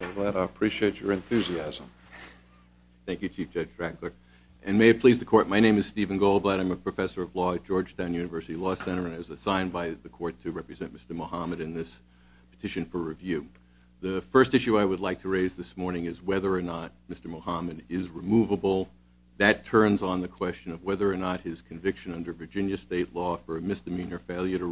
I appreciate your enthusiasm. Thank you, Chief Judge Frackler. And may it please the court, my name is Stephen Goldblatt. I'm a professor of law at Georgetown University Law Center and I was assigned by the court to represent Mr. Mohamed in this petition for review. The first issue I would like to raise this morning is whether or not Mr. Mohamed is removable. That turns on the question of whether or not his conviction under Virginia state law for a misdemeanor failure to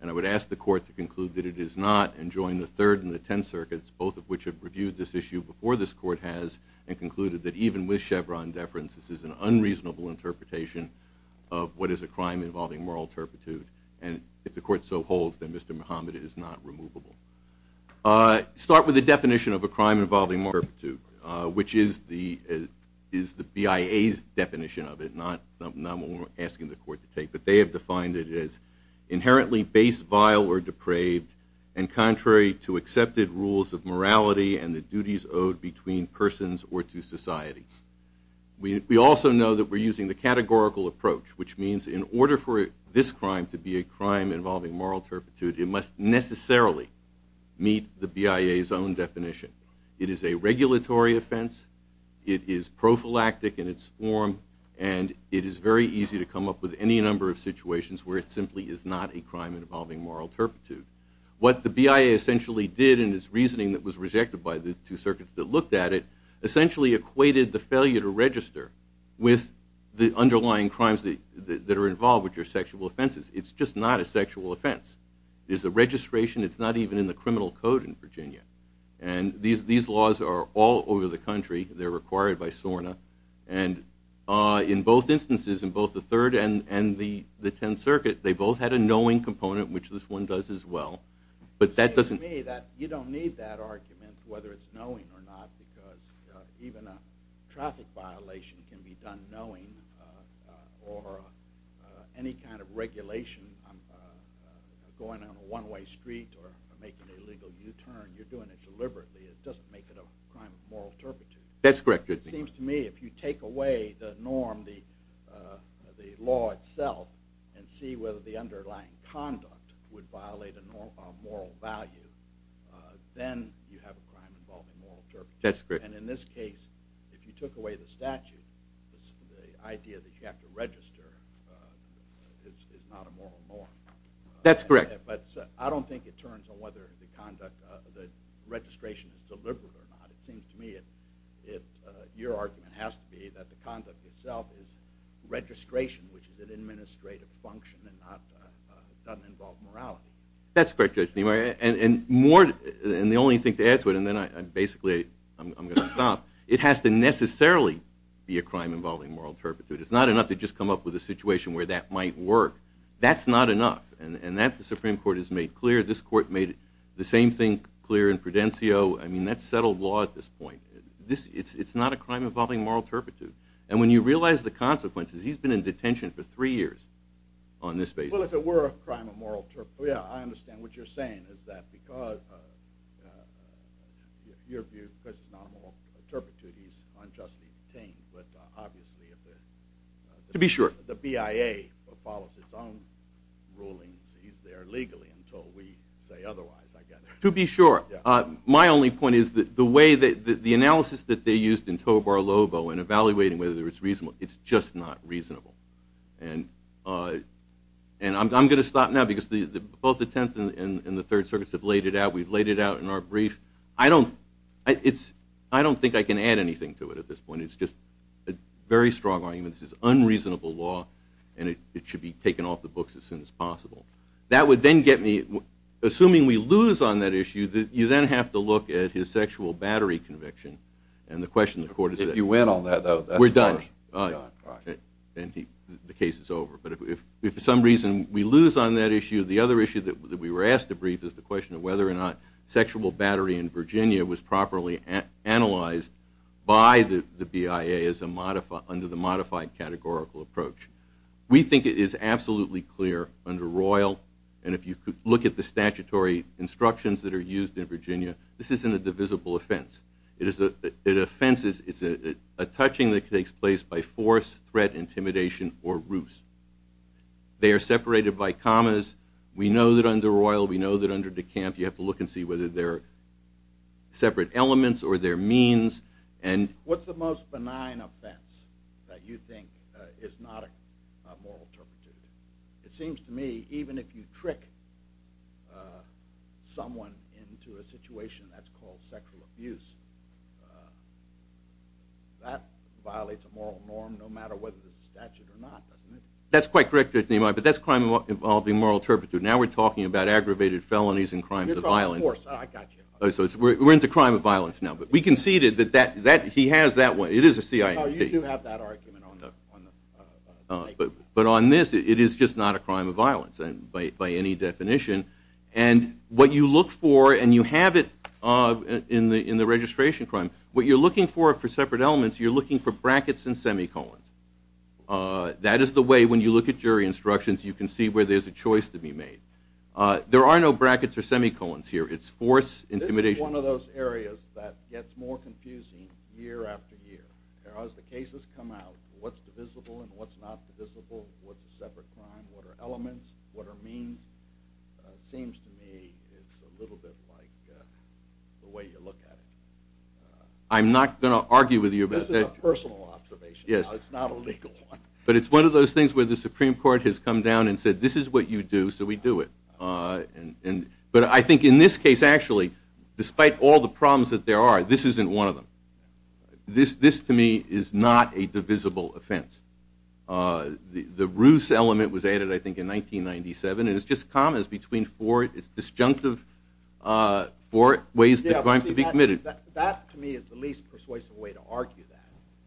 And I would ask the court to conclude that it is not, and join the Third and the Tenth Circuits, both of which have reviewed this issue before this court has, and concluded that even with Chevron deference, this is an unreasonable interpretation of what is a crime involving moral turpitude. And if the court so holds that Mr. Mohamed is not removable. I start with the definition of a crime involving moral turpitude, which is the is the BIA's definition of it, not asking the court to take, but they have defined it as inherently base, vile, or depraved, and contrary to accepted rules of morality and the duties owed between persons or to society. We also know that we're using the categorical approach, which means in order for this crime to be a crime involving moral turpitude, it must necessarily meet the BIA's own definition. It is a regulatory offense, it is prophylactic in its form, and it is very easy to come up with any number of situations where it simply is not a crime involving moral turpitude. What the BIA essentially did in its reasoning that was rejected by the two circuits that looked at it, essentially equated the failure to register with the underlying crimes that are involved, which are sexual offenses. It's just not a sexual offense. There's a registration, it's not even in the criminal code in Virginia. And these laws are all over the country, they're required by SORNA, and in both instances, in both the Third and the Tenth Circuit, they both had a knowing component, which this one does as well. But that doesn't mean that you don't need that argument, whether it's knowing or not, because even a traffic violation can be done knowing, or any kind of regulation, going on a one-way street or making a legal U-turn, you're doing it deliberately. It doesn't make it a crime of moral turpitude. That's correct. It seems to me if you take away the norm, the law itself, and see whether the underlying conduct would violate a moral value, then you have a crime involving moral turpitude. That's correct. And in this case, if you took away the statute, the idea that you have to register is not a moral norm. That's correct. But I don't think it turns on whether the registration is deliberate or not. It seems to me that your argument has to be that the conduct itself is registration, which is an administrative function and doesn't involve morality. That's correct, Judge. And the only thing to add to it, and then basically I'm going to stop, it has to necessarily be a crime involving moral turpitude. It's not enough to just come up with a situation where that might work. That's not enough, and that the Supreme Court has made clear. This Prudencio, I mean that's settled law at this point. It's not a crime involving moral turpitude. And when you realize the consequences, he's been in detention for three years on this basis. Well, if it were a crime of moral turpitude, yeah, I understand what you're saying is that because your view, because it's not a moral turpitude, he's unjustly detained, but obviously if the BIA follows its own rulings, he's there legally until we say otherwise, I guess. To be sure, my only point is that the way that the analysis that they used in Tovar Lobo in evaluating whether it's reasonable, it's just not reasonable. And I'm going to stop now because both the Tenth and the Third Circuits have laid it out. We've laid it out in our brief. I don't think I can add anything to it at this point. It's just a very strong argument. This is unreasonable law, and it would then get me, assuming we lose on that issue, that you then have to look at his sexual battery conviction. And the question the court is, if you win on that though, we're done. The case is over. But if for some reason we lose on that issue, the other issue that we were asked to brief is the question of whether or not sexual battery in Virginia was properly analyzed by the BIA as a modified, under the modified categorical approach. We think it is absolutely clear under Royal, and if you could look at the statutory instructions that are used in Virginia, this isn't a divisible offense. It is a, it offenses, it's a touching that takes place by force, threat, intimidation, or ruse. They are separated by commas. We know that under Royal, we know that under De Camp, you have to look and see whether they're separate elements or their means. And what's the most benign offense that you think is not a moral turpitude? It seems to me, even if you trick someone into a situation that's called sexual abuse, that violates a moral norm no matter whether it's a statute or not, doesn't it? That's quite correct, but that's crime involving moral turpitude. Now we're talking about aggravated felonies and crimes of violence. We're into crime of violence now, but we conceded that he has that one. It is a CIT. But on this, it is just not a crime of violence by any definition. And what you look for, and you have it in the in the registration crime, what you're looking for for separate elements, you're looking for brackets and semicolons. That is the way, when you look at jury instructions, you can see where there's a choice to be made. There are no brackets or semicolons here. It's force, intimidation. This is one of those areas that gets more confusing year after year. As the cases come out, what's divisible and what's not divisible, what's a separate crime, what are elements, what are means, seems to me it's a little bit like the way you look at it. I'm not going to argue with you about that. This is a personal observation. Yes. It's not a legal one. But it's one of those things where the Supreme Court has come down and said, this is what you do, so we do it. But I think in this case, actually, despite all the problems that there are, this isn't one of them. This, to me, is not a divisible offense. The ruse element was added, I think, in 1997. And it's just commas between four, it's disjunctive, four ways that a crime can be committed. That, to me, is the least persuasive way to argue that.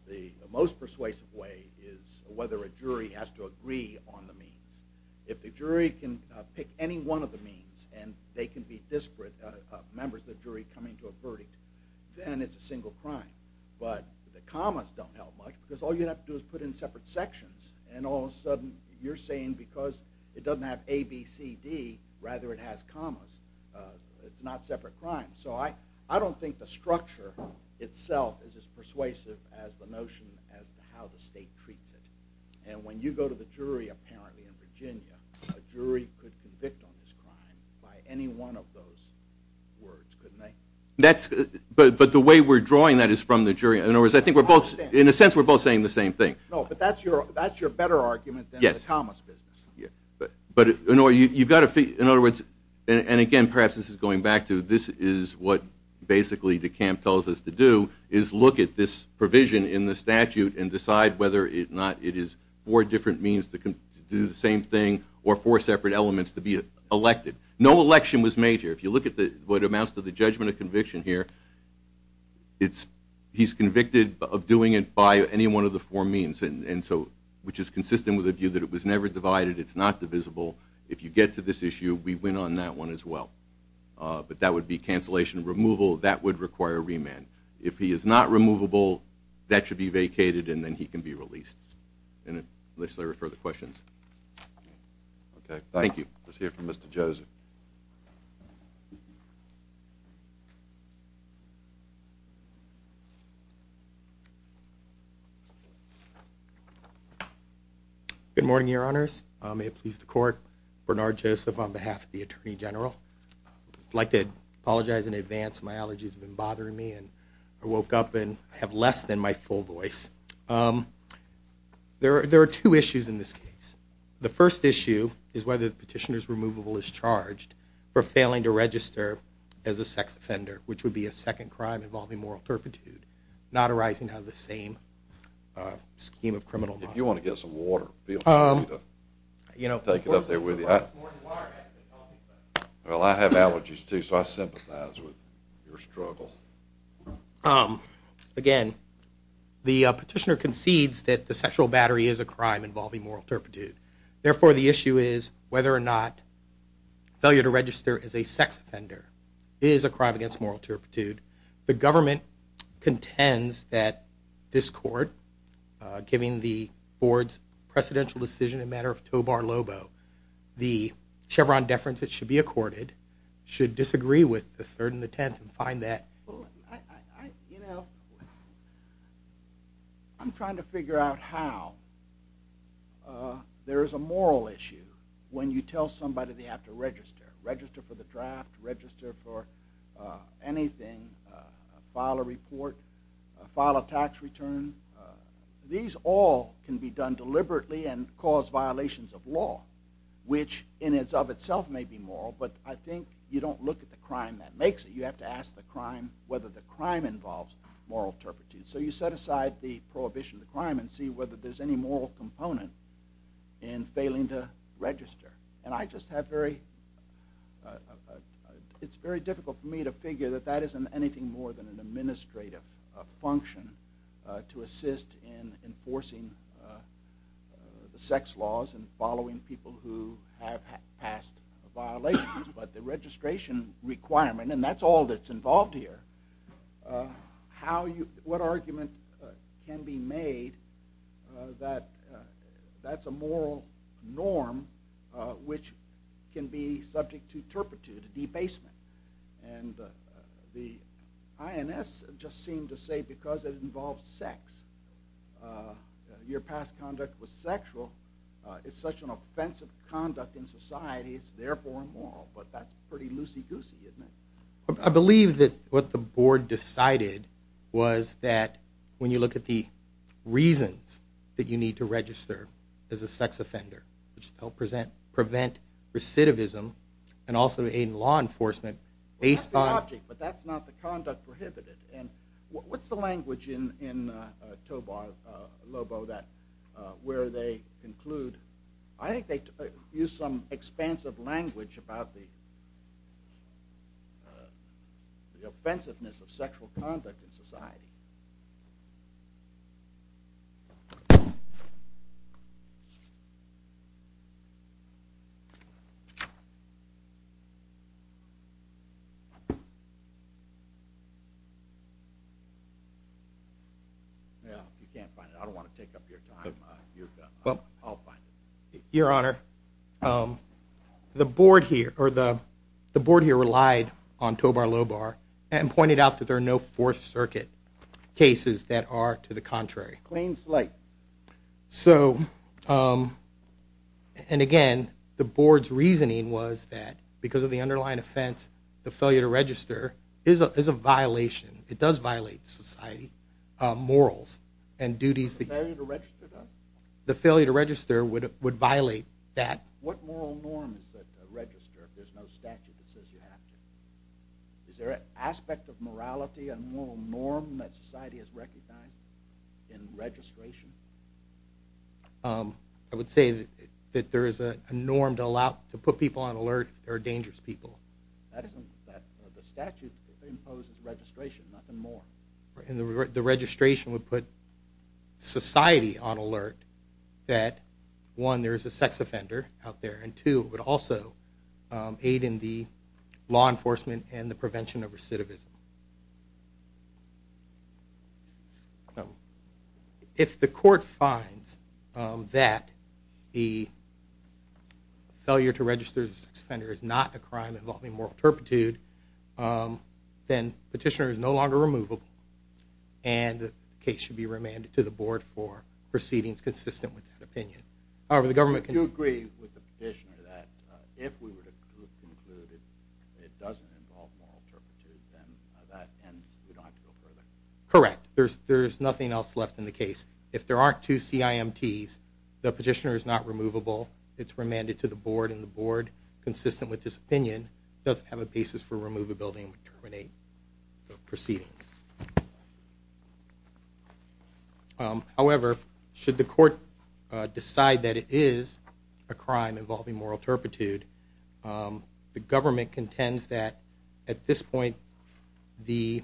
The most persuasive way is whether a jury has to agree on the means. If the jury can pick any one of the means, and they can be disparate members of the jury coming to a verdict, then it's a single crime. But the commas don't help much, because all you have to do is put in separate sections. And all of a sudden you're saying because it doesn't have a, b, c, d, rather it has commas, it's not separate crimes. So I don't think the structure itself is as persuasive as the notion as to how the State treats it. And when you go to the jury, apparently, in Virginia, a jury could could convict on this crime by any one of those words, couldn't they? But the way we're drawing that is from the jury. In other words, I think we're both, in a sense, we're both saying the same thing. No, but that's your better argument than the commas business. In other words, and again, perhaps this is going back to, this is what basically DeCamp tells us to do, is look at this provision in the statute and decide whether or not it is four different means to do the same thing, or four separate elements to be elected. No election was made here. If you look at what amounts to the judgment of conviction here, it's, he's convicted of doing it by any one of the four means, and so, which is consistent with the view that it was never divided, it's not divisible. If you get to this issue, we win on that one as well. But that would be cancellation. Removal, that would require remand. If he is not removable, that should be vacated and then he can be released. And unless there are further questions. Okay, thank you. Let's hear from Mr. Joseph. Good morning, your honors. May it please the court, Bernard Joseph on behalf of the Attorney General. I'd like to apologize in advance. My allergies have been bothering me and I woke up and I have less than my full voice. There are two issues in this case. The first issue is whether the petitioner's removable is charged for failing to register as a sex offender, which would be a second crime involving moral turpitude, not arising out of the same scheme of criminal law. If you want to get some water, we'll take it up there with you. Well, I have allergies too, so I sympathize with your struggle. Again, the petitioner concedes that the sexual battery is a crime involving moral turpitude. Therefore, the issue is whether or not failure to register as a sex offender is a crime against moral turpitude. The government contends that this court, giving the board's precedential decision in matter of tobar lobo, the Chevron deference that should be accorded should disagree with the third and the tenth and find that... file a report, file a tax return. These all can be done deliberately and cause violations of law, which in and of itself may be moral, but I think you don't look at the crime that makes it. You have to ask the crime whether the crime involves moral turpitude. So you set aside the prohibition of the crime and see whether there's any moral component in failing to register. And I just have very... it's very difficult for me to figure that that isn't anything more than an administrative function to assist in enforcing the sex laws and following people who have passed violations. But the registration requirement, and that's all that's involved here, what argument can be made that that's a moral norm which can be subject to turpitude, debasement? And the INS just seemed to say because it involves sex, your past conduct was sexual, it's such an offensive conduct in society, it's therefore moral. But that's pretty loosey-goosey, isn't it? I believe that what the board decided was that when you look at the reasons that you need to register as a sex offender to help prevent recidivism and also aid in law enforcement based on... the offensiveness of sexual conduct in society. You can't find it. I don't want to take up your time. I'll find it. Your Honor, the board here relied on Tobar-Lobar and pointed out that there are no Fourth Circuit cases that are to the contrary. And again, the board's reasoning was that because of the underlying offense, the failure to register is a violation. It does violate society, morals and duties. The failure to register does? The failure to register would violate that. What moral norm is there to register if there's no statute that says you have to? Is there an aspect of morality, a moral norm that society has recognized in registration? I would say that there is a norm to put people on alert if there are dangerous people. The statute imposes registration, nothing more. The registration would put society on alert that, one, there is a sex offender out there, and two, it would also aid in the law enforcement and the prevention of recidivism. If the court finds that the failure to register as a sex offender is not a crime involving moral turpitude, then the petitioner is no longer removable and the case should be remanded to the board for proceedings consistent with that opinion. Do you agree with the petitioner that if we were to conclude that it doesn't involve moral turpitude, then that ends, we don't have to go further? Correct. There's nothing else left in the case. If there aren't two CIMTs, the petitioner is not removable, it's remanded to the board, and the board, consistent with this opinion, doesn't have a basis for removability and would terminate the proceedings. However, should the court decide that it is a crime involving moral turpitude, the government contends that, at this point, the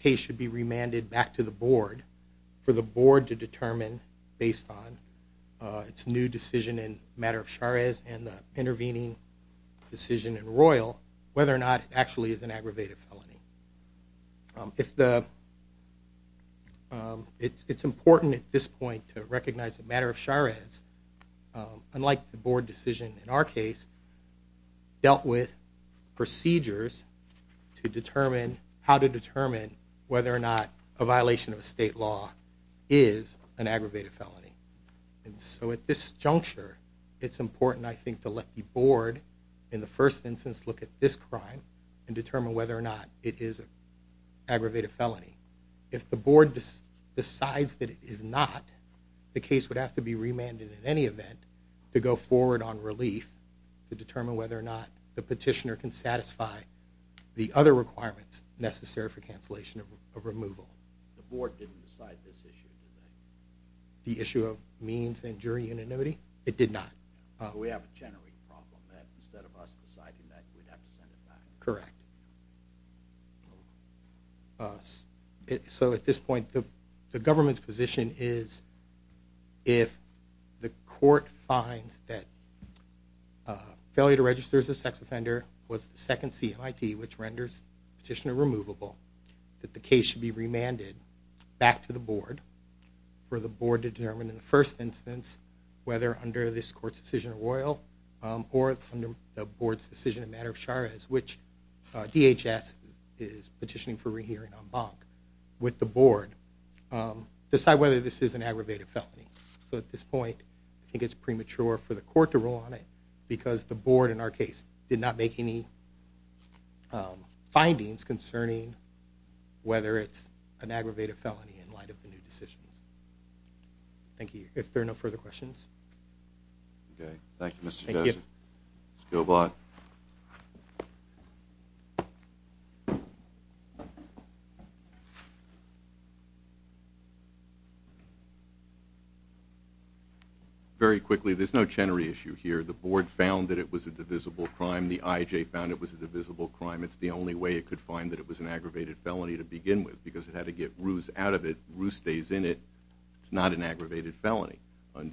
case should be remanded back to the board for the board to determine, based on its new decision in Matter of Charest and the intervening decision in Royal, whether or not it actually is an aggravated felony. It's important at this point to recognize that Matter of Charest, unlike the board decision in our case, dealt with procedures to determine how to determine whether or not a violation of a state law is an aggravated felony. And so at this juncture, it's important, I think, to let the board, in the first instance, look at this crime and determine whether or not it is an aggravated felony. If the board decides that it is not, the case would have to be remanded in any event to go forward on relief to determine whether or not the petitioner can satisfy the other requirements necessary for cancellation of removal. The board didn't decide this issue, did they? The issue of means and jury unanimity? It did not. We have a generic problem that instead of us deciding that, we'd have to send it back. Correct. So at this point, the government's position is if the court finds that failure to register as a sex offender was the second CMIT, which renders the petitioner removable, that the case should be remanded back to the board for the board to determine in the first instance whether under this court's decision in Royal or under the board's decision in Matter of Charest, which DHS is petitioning for re-hearing en banc with the board, decide whether this is an aggravated felony. So at this point, I think it's premature for the court to rule on it because the board, in our case, did not make any findings concerning whether it's an aggravated felony in light of the new decisions. Thank you. If there are no further questions? Okay. Thank you, Mr. Joseph. Thank you. Thank you all. Very quickly, there's no Chenery issue here. The board found that it was a divisible crime. The IJ found it was a divisible crime. It's the only way it could find that it was an aggravated felony to begin with because it had to get Ruse out of it. Ruse stays in it. It's not an aggravated felony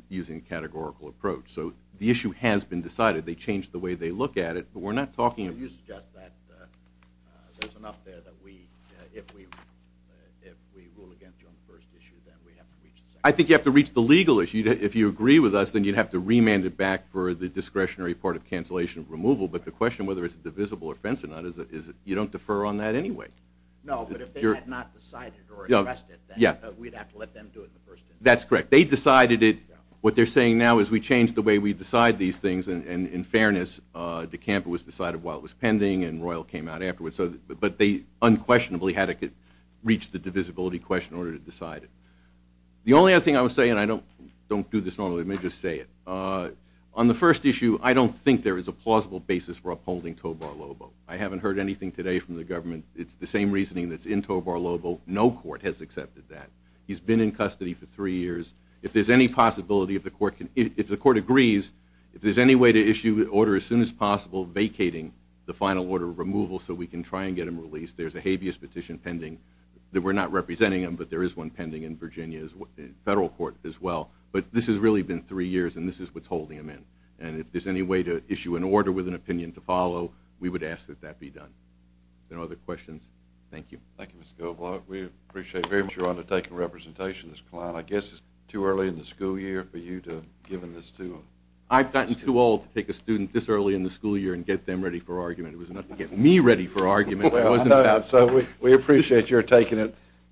using a categorical approach. So the issue has been decided. They changed the way they look at it, but we're not talking about it. So you suggest that there's enough there that if we rule against you on the first issue, then we have to reach the second issue? I think you have to reach the legal issue. If you agree with us, then you'd have to remand it back for the discretionary part of cancellation of removal. But the question, whether it's a divisible offense or not, is you don't defer on that anyway. No, but if they had not decided or expressed it, then we'd have to let them do it the first time. That's correct. They decided it. What they're saying now is we changed the way we decide these things. And in fairness, DeCampo was decided while it was pending and Royal came out afterwards. But they unquestionably had to reach the divisibility question in order to decide it. The only other thing I would say, and I don't do this normally, let me just say it. On the first issue, I don't think there is a plausible basis for upholding Tobar-Lobo. I haven't heard anything today from the government. It's the same reasoning that's in Tobar-Lobo. No court has accepted that. He's been in custody for three years. If there's any possibility, if the court agrees, if there's any way to issue an order as soon as possible vacating the final order of removal so we can try and get him released, there's a habeas petition pending. We're not representing him, but there is one pending in Virginia Federal Court as well. But this has really been three years, and this is what's holding him in. And if there's any way to issue an order with an opinion to follow, we would ask that that be done. If there are no other questions, thank you. Thank you, Mr. Goldblock. We appreciate very much your undertaking representation, Mr. Kline. I guess it's too early in the school year for you to have given this to a student. I've gotten too old to take a student this early in the school year and get them ready for argument. It was enough to get me ready for argument. So we appreciate your taking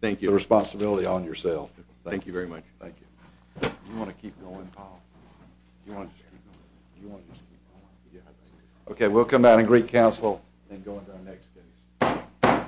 the responsibility on yourself. Thank you very much. Thank you. Okay, we'll come back and greet counsel and go into our next case. Thank you.